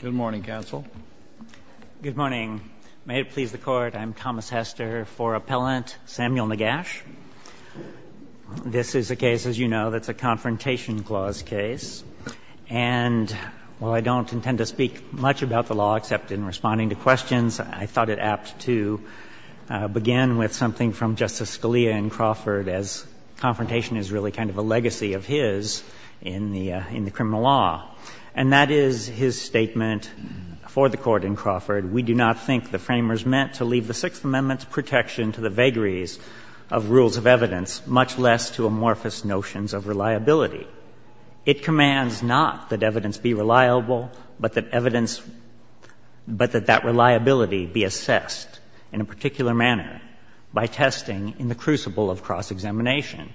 Good morning, counsel. Good morning. May it please the Court, I'm Thomas Hester for Appellant Samuel Negash. This is a case, as you know, that's a Confrontation Clause case. And while I don't intend to speak much about the law except in responding to questions, I thought it apt to begin with something from Justice Scalia in Crawford, as confrontation is really kind of a legacy of his in the criminal law. And that is his statement for the Court in Crawford. We do not think the framers meant to leave the Sixth Amendment's protection to the vagaries of rules of evidence, much less to amorphous notions of reliability. It commands not that evidence be reliable, but that evidence – but that that reliability be assessed in a particular manner by testing in the crucible of cross-examination.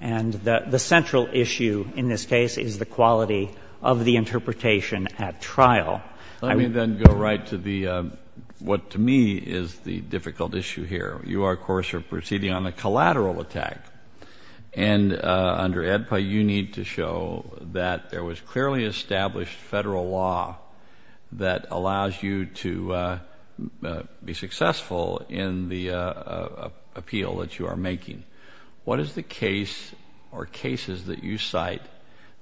And the central issue in this case is the quality of the interpretation at trial. Let me then go right to the – what to me is the difficult issue here. You, of course, are proceeding on a collateral attack. And under AEDPA, you need to show that there was clearly established Federal law that allows you to be successful in the appeal that you are making. What is the case or cases that you cite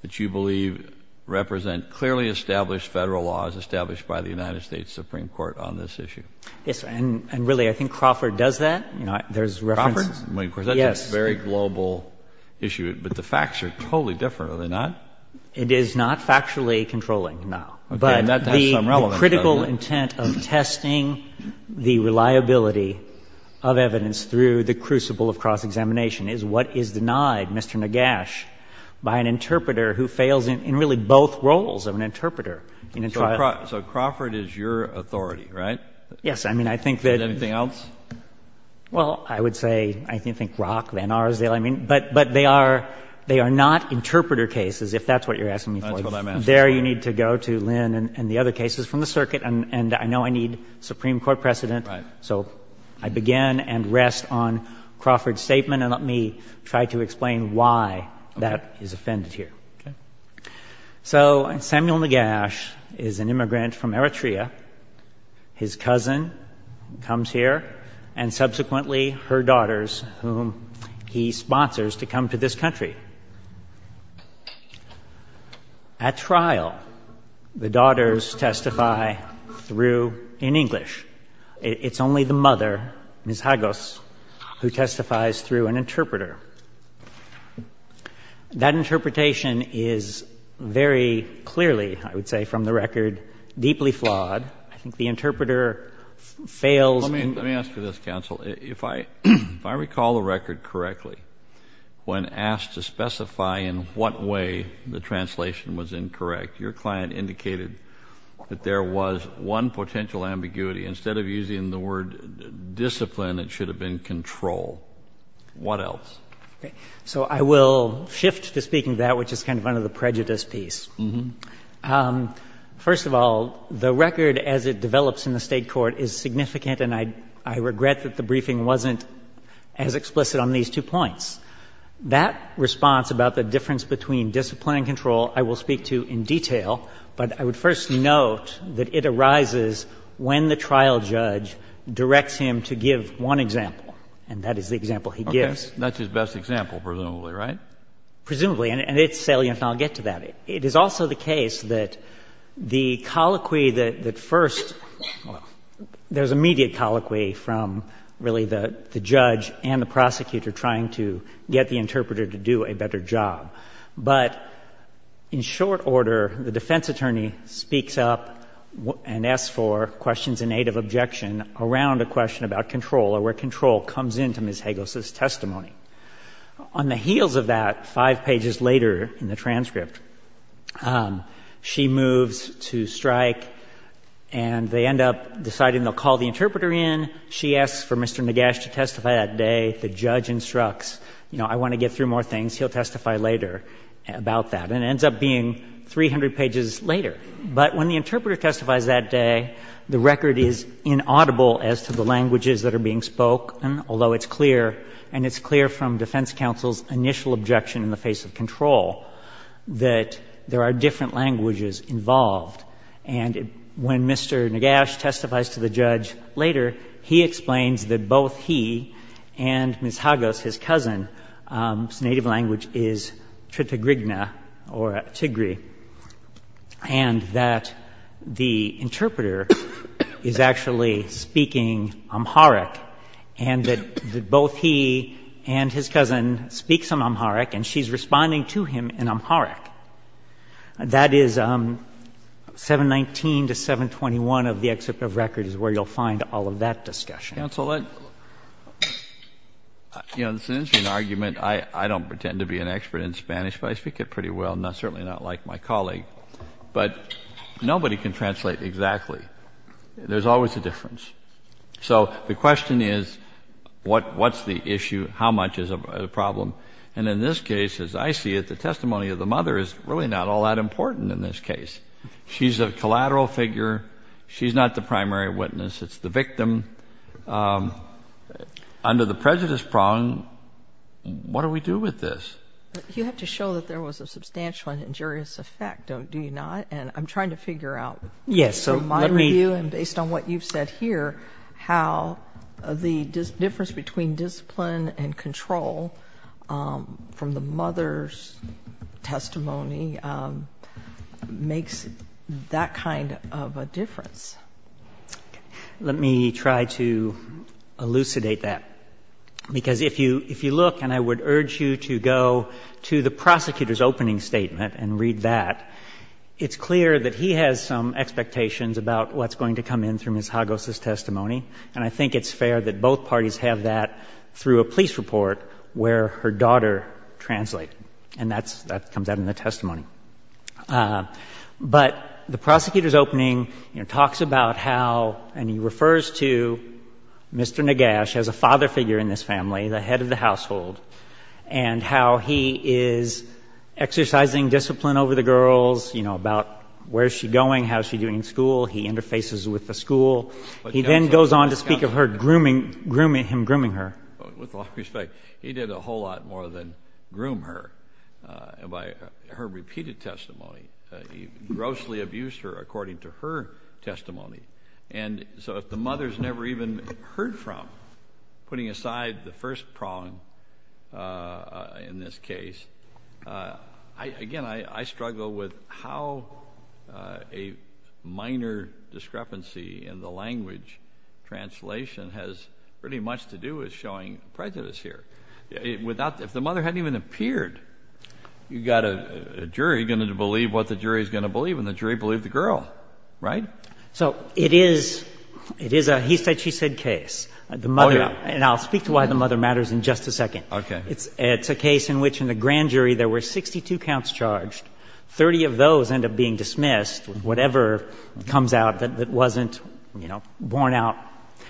that you believe represent clearly established Federal laws established by the United States Supreme Court on this issue? Yes. And really, I think Crawford does that. Crawford? Yes. That's a very global issue. But the facts are totally different, are they not? It is not factually controlling, no. But the critical intent of testing the reliability of evidence through the crucible of cross-examination is what is denied Mr. Nagash by an interpreter who fails in really both roles of an interpreter in a trial. So Crawford is your authority, right? Yes. I mean, I think that – Anything else? Well, I would say – I think Rock, Van Arsdale, I mean – but they are not interpreter cases, if that's what you're asking me for. That's what I'm asking. There you need to go to Lynn and the other cases from the circuit. And I know I need Supreme Court precedent. Right. So I begin and rest on Crawford's statement, and let me try to explain why that is offended here. Okay? So Samuel Nagash is an immigrant from Eritrea. His cousin comes here, and subsequently her daughters, whom he sponsors to come to this country. At trial, the daughters testify through – in English. It's only the mother, Ms. Hagos, who testifies through an interpreter. That interpretation is very clearly, I would say from the record, deeply flawed. I think the interpreter fails in – Let me ask you this, counsel. If I recall the record correctly, when asked to specify in what way the translation was incorrect, your client indicated that there was one potential ambiguity. Instead of using the word discipline, it should have been control. What else? So I will shift to speaking to that, which is kind of under the prejudice piece. First of all, the record as it develops in the State court is significant, and I regret that the briefing wasn't as explicit on these two points. That response about the difference between discipline and control I will speak to in detail, but I would first note that it arises when the trial judge directs him to give one example, and that is the example he gives. Okay. That's his best example, presumably, right? Presumably. And it's salient, and I'll get to that. It is also the case that the colloquy that first – there's immediate colloquy from really the judge and the prosecutor trying to get the interpreter to do a better job. But in short order, the defense attorney speaks up and asks for questions in aid of objection around a question about control or where control comes into Ms. Hagos' testimony. On the heels of that, five pages later in the transcript, she moves to strike, and they she asks for Mr. Nagash to testify that day. The judge instructs, you know, I want to get through more things. He'll testify later about that. And it ends up being 300 pages later. But when the interpreter testifies that day, the record is inaudible as to the languages that are being spoken, although it's clear, and it's clear from defense counsel's initial objection in the face of control, that there are different languages involved. And when Mr. Nagash testifies to the judge later, he explains that both he and Ms. Hagos, his cousin, whose native language is Tritigrigna or Tigri, and that the interpreter is actually speaking Amharic, and that both he and his cousin speaks some Amharic, and she's responding to him in Amharic. That is 719 to 721 of the excerpt of record is where you'll find all of that discussion. Counsel, that's an interesting argument. I don't pretend to be an expert in Spanish, but I speak it pretty well, certainly not like my colleague. But nobody can translate exactly. There's always a difference. So the question is what's the issue, how much is a problem? And in this case, as I see it, the testimony of the mother is really not all that important in this case. She's a collateral figure. She's not the primary witness. It's the victim. Under the prejudice prong, what do we do with this? You have to show that there was a substantial injurious effect, do you not? And I'm trying to figure out through my review and based on what you've said here how the difference between discipline and control from the mother's testimony makes that kind of a difference. Let me try to elucidate that, because if you look, and I would urge you to go to the prosecutor's opening statement and read that, it's clear that he has some expectations about what's going to come in through Ms. Hagos' testimony, and I think it's fair that both parties have that through a police report where her daughter translated. And that comes out in the testimony. But the prosecutor's opening talks about how, and he refers to Mr. Nagash as a father figure in this family, the head of the household, and how he is exercising discipline over the girls, you know, about where is she going, how is she doing in school. He interfaces with the school. He then goes on to speak of him grooming her. With all due respect, he did a whole lot more than groom her by her repeated testimony. He grossly abused her according to her testimony. And so if the mother's never even heard from, putting aside the first prong in this case, again, I struggle with how a minor discrepancy in the language translation has pretty much to do with showing prejudice here. If the mother hadn't even appeared, you've got a jury going to believe what the jury is going to believe, and the jury believed the girl, right? So it is a he said, she said case. Oh, yeah. The mother, and I'll speak to why the mother matters in just a second. Okay. It's a case in which in the grand jury there were 62 counts charged. Thirty of those end up being dismissed, whatever comes out that wasn't, you know, borne out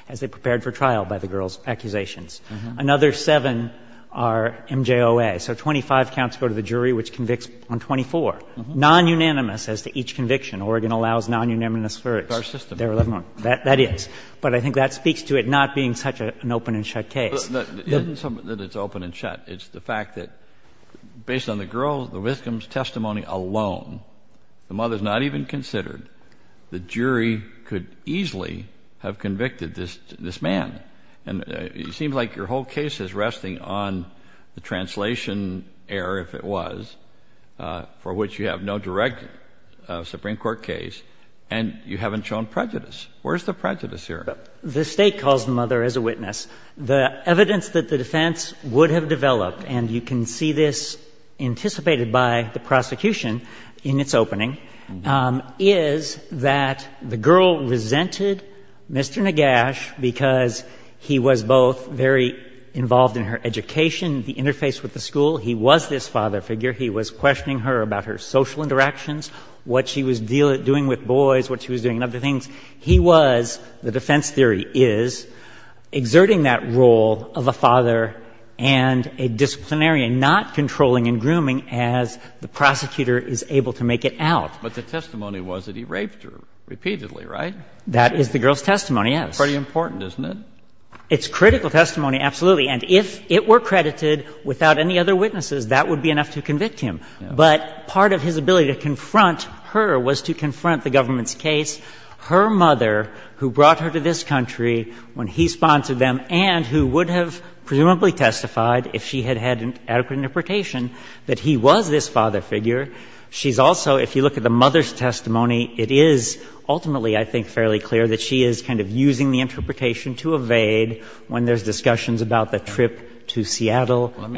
as they prepared for trial by the girls' accusations. Another seven are MJOA. So 25 counts go to the jury, which convicts on 24, nonunanimous as to each conviction. Oregon allows nonunanimous verdicts. That's our system. That is. But I think that speaks to it not being such an open and shut case. It isn't something that it's open and shut. It's the fact that based on the girl, the victim's testimony alone, the mother's not even considered. The jury could easily have convicted this man. And it seems like your whole case is resting on the translation error, if it was, for which you have no direct Supreme Court case, and you haven't shown prejudice. Where's the prejudice here? The state calls the mother as a witness. The evidence that the defense would have developed, and you can see this anticipated by the prosecution in its opening, is that the girl resented Mr. Nagash because he was both very involved in her education, the interface with the school. He was this father figure. He was questioning her about her social interactions, what she was doing with boys, what she was doing and other things. He was, the defense theory is, exerting that role of a father and a disciplinarian, not controlling and grooming as the prosecutor is able to make it out. But the testimony was that he raped her repeatedly, right? That is the girl's testimony, yes. That's pretty important, isn't it? It's critical testimony, absolutely. And if it were credited without any other witnesses, that would be enough to convict him. But part of his ability to confront her was to confront the government's case. Her mother, who brought her to this country when he sponsored them and who would have presumably testified, if she had had an adequate interpretation, that he was this father figure. She's also, if you look at the mother's testimony, it is ultimately, I think, fairly clear that she is kind of using the interpretation to evade when there's discussions about the trip to Seattle. Let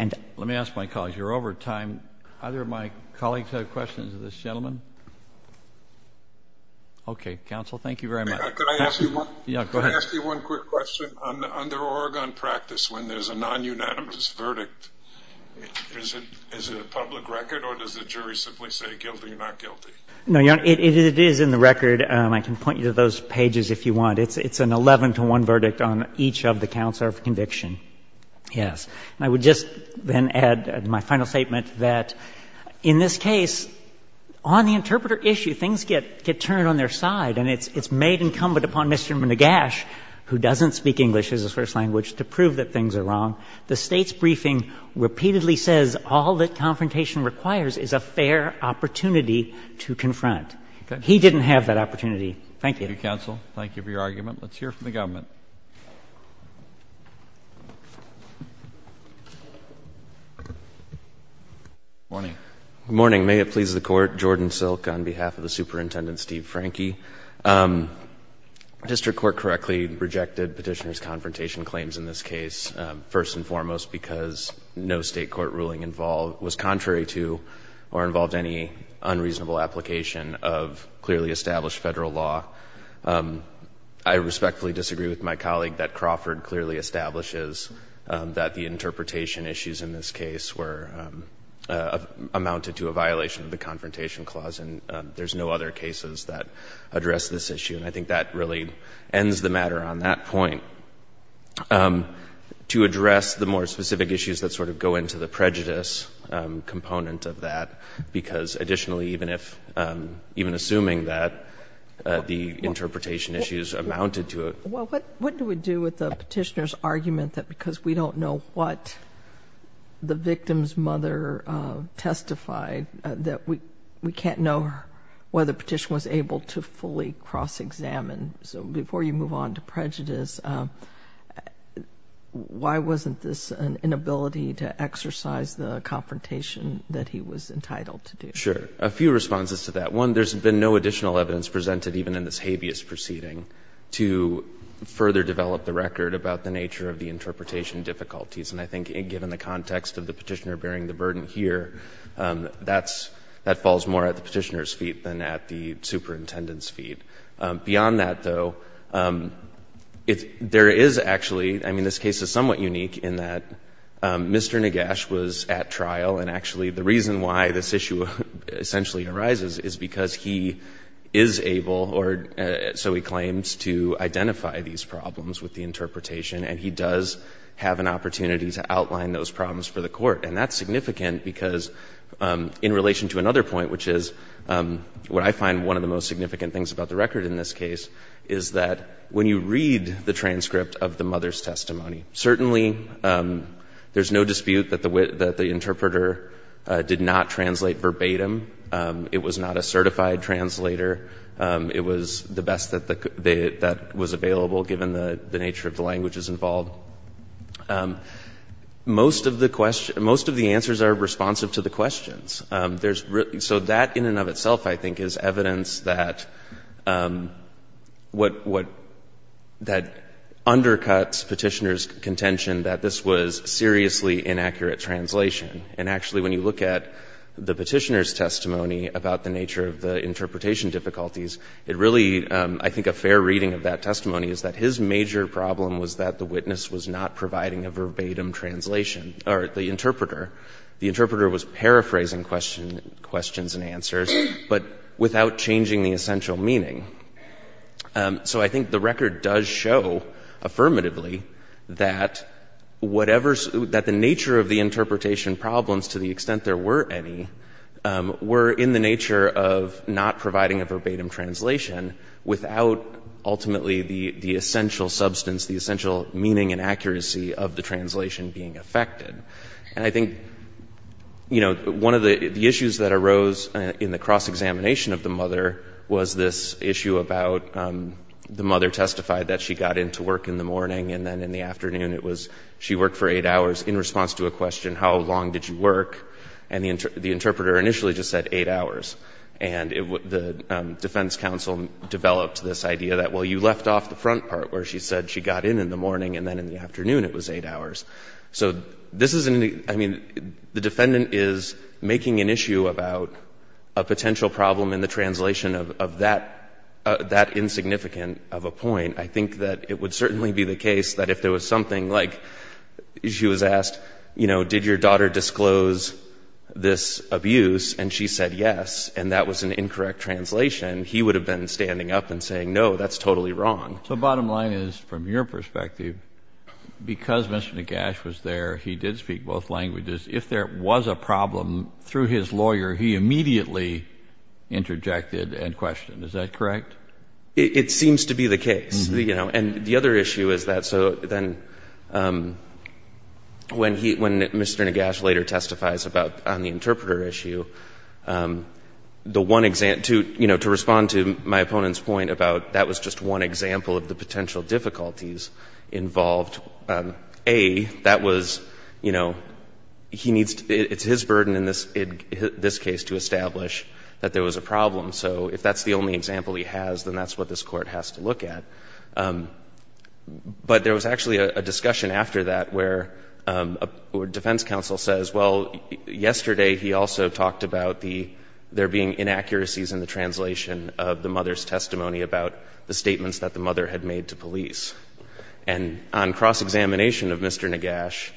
me ask my colleagues. You're over time. Either of my colleagues have questions of this gentleman? Okay. Counsel, thank you very much. Could I ask you one quick question? Under Oregon practice, when there's a non-unanimous verdict, is it a public record or does the jury simply say guilty, not guilty? No, Your Honor. It is in the record. I can point you to those pages if you want. It's an 11 to 1 verdict on each of the counts of conviction. Yes. And I would just then add my final statement that in this case, on the interpreter issue, things get turned on their side and it's made incumbent upon Mr. Nagash, who doesn't speak English as his first language, to prove that things are wrong. The State's briefing repeatedly says all that confrontation requires is a fair opportunity to confront. He didn't have that opportunity. Thank you. Thank you, counsel. Thank you for your argument. Let's hear from the government. Good morning. Good morning. May it please the Court. Jordan Silk on behalf of the Superintendent Steve Franke. District Court correctly rejected Petitioner's confrontation claims in this case, first and foremost because no State court ruling was contrary to or involved any unreasonable application of clearly established Federal law. I respectfully disagree with that. I agree with my colleague that Crawford clearly establishes that the interpretation issues in this case were amounted to a violation of the Confrontation Clause, and there's no other cases that address this issue. And I think that really ends the matter on that point. To address the more specific issues that sort of go into the prejudice component of that, because additionally, even if, even assuming that the interpretation issues amounted to it. Well, what do we do with the Petitioner's argument that because we don't know what the victim's mother testified that we can't know whether Petitioner was able to fully cross-examine? So before you move on to prejudice, why wasn't this an inability to exercise the confrontation that he was entitled to do? Sure. A few responses to that. One, there's been no additional evidence presented even in this habeas proceeding to further develop the record about the nature of the interpretation difficulties. And I think given the context of the Petitioner bearing the burden here, that falls more at the Petitioner's feet than at the Superintendent's feet. Beyond that, though, there is actually — I mean, this case is somewhat unique in that Mr. Nagash was at trial, and actually the reason why this issue essentially arises is because he is able, or so he claims, to identify these problems with the interpretation, and he does have an opportunity to outline those problems for the court. And that's significant because in relation to another point, which is what I find one of the most significant things about the record in this case, is that when you read the transcript of the mother's testimony, certainly there's no dispute that the interpreter did not translate verbatim. It was not a certified translator. It was the best that was available, given the nature of the languages involved. Most of the answers are responsive to the questions. So that in and of itself, I think, is evidence that undercuts Petitioner's contention that this was seriously inaccurate translation. And actually, when you look at the Petitioner's testimony about the nature of the interpretation difficulties, it really — I think a fair reading of that testimony is that his major problem was that the witness was not providing a verbatim translation — or the interpreter. The interpreter was paraphrasing questions and answers, but without changing the essential meaning. So I think the record does show affirmatively that whatever — that the nature of the interpretation problems, to the extent there were any, were in the nature of not providing a verbatim translation without ultimately the essential substance, the essential meaning and accuracy of the translation being affected. And I think, you know, one of the issues that arose in the cross-examination of the mother was this issue about the mother testified that she got into work in the morning, and then in the afternoon it was she worked for eight hours in response to a question, how long did you work? And the interpreter initially just said eight hours. And the defense counsel developed this idea that, well, you left off the front part where she said she got in in the morning, and then in the afternoon it was eight hours. So this is — I mean, the defendant is making an issue about a potential problem in the translation of that — that insignificant of a point. I think that it would certainly be the case that if there was something like — she was asked, you know, did your daughter disclose this abuse? And she said yes, and that was an incorrect translation. He would have been standing up and saying, no, that's totally wrong. So bottom line is, from your perspective, because Mr. Nagash was there, he did speak both languages. If there was a problem through his lawyer, he immediately interjected and questioned. Is that correct? It seems to be the case, you know. And the other issue is that — so then when he — when Mr. Nagash later testifies about — on the interpreter issue, the one — to, you know, to respond to my opponent's point about that was just one example of the potential difficulties involved, A, that was, you know, he needs to — it's his burden in this case to establish that there was a problem. So if that's the only example he has, then that's what this Court has to look at. But there was actually a discussion after that where a defense counsel says, well, yesterday he also talked about the — there being inaccuracies in the translation of the mother's testimony about the statements that the mother had made to police. And on cross-examination of Mr. Nagash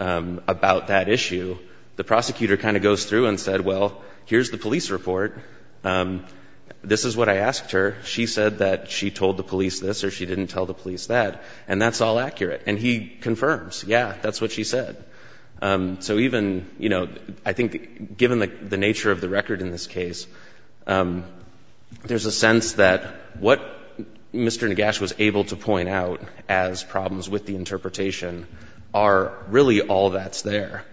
about that issue, the prosecutor kind of goes through and said, well, here's the police report. This is what I asked her. She said that she told the police this or she didn't tell the police that, and that's all accurate. And he confirms, yeah, that's what she said. So even, you know, I think given the nature of the record in this case, there's a sense that what Mr. Nagash was able to point out as problems with the interpretation are really all that's there.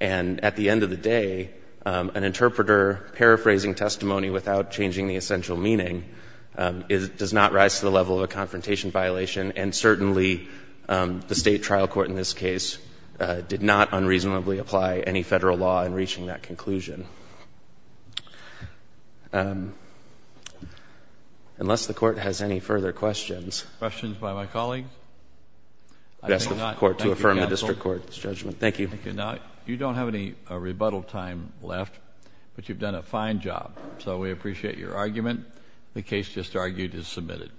And at the end of the day, an interpreter paraphrasing testimony without changing the essential meaning does not rise to the level of a confrontation violation, and certainly the State trial court in this case did not unreasonably apply any Federal law in reaching that conclusion. Unless the court has any further questions. Questions by my colleagues? I ask the court to affirm the district court's judgment. Thank you. Thank you. Now, you don't have any rebuttal time left, but you've done a fine job, so we appreciate your argument. The case just argued is submitted.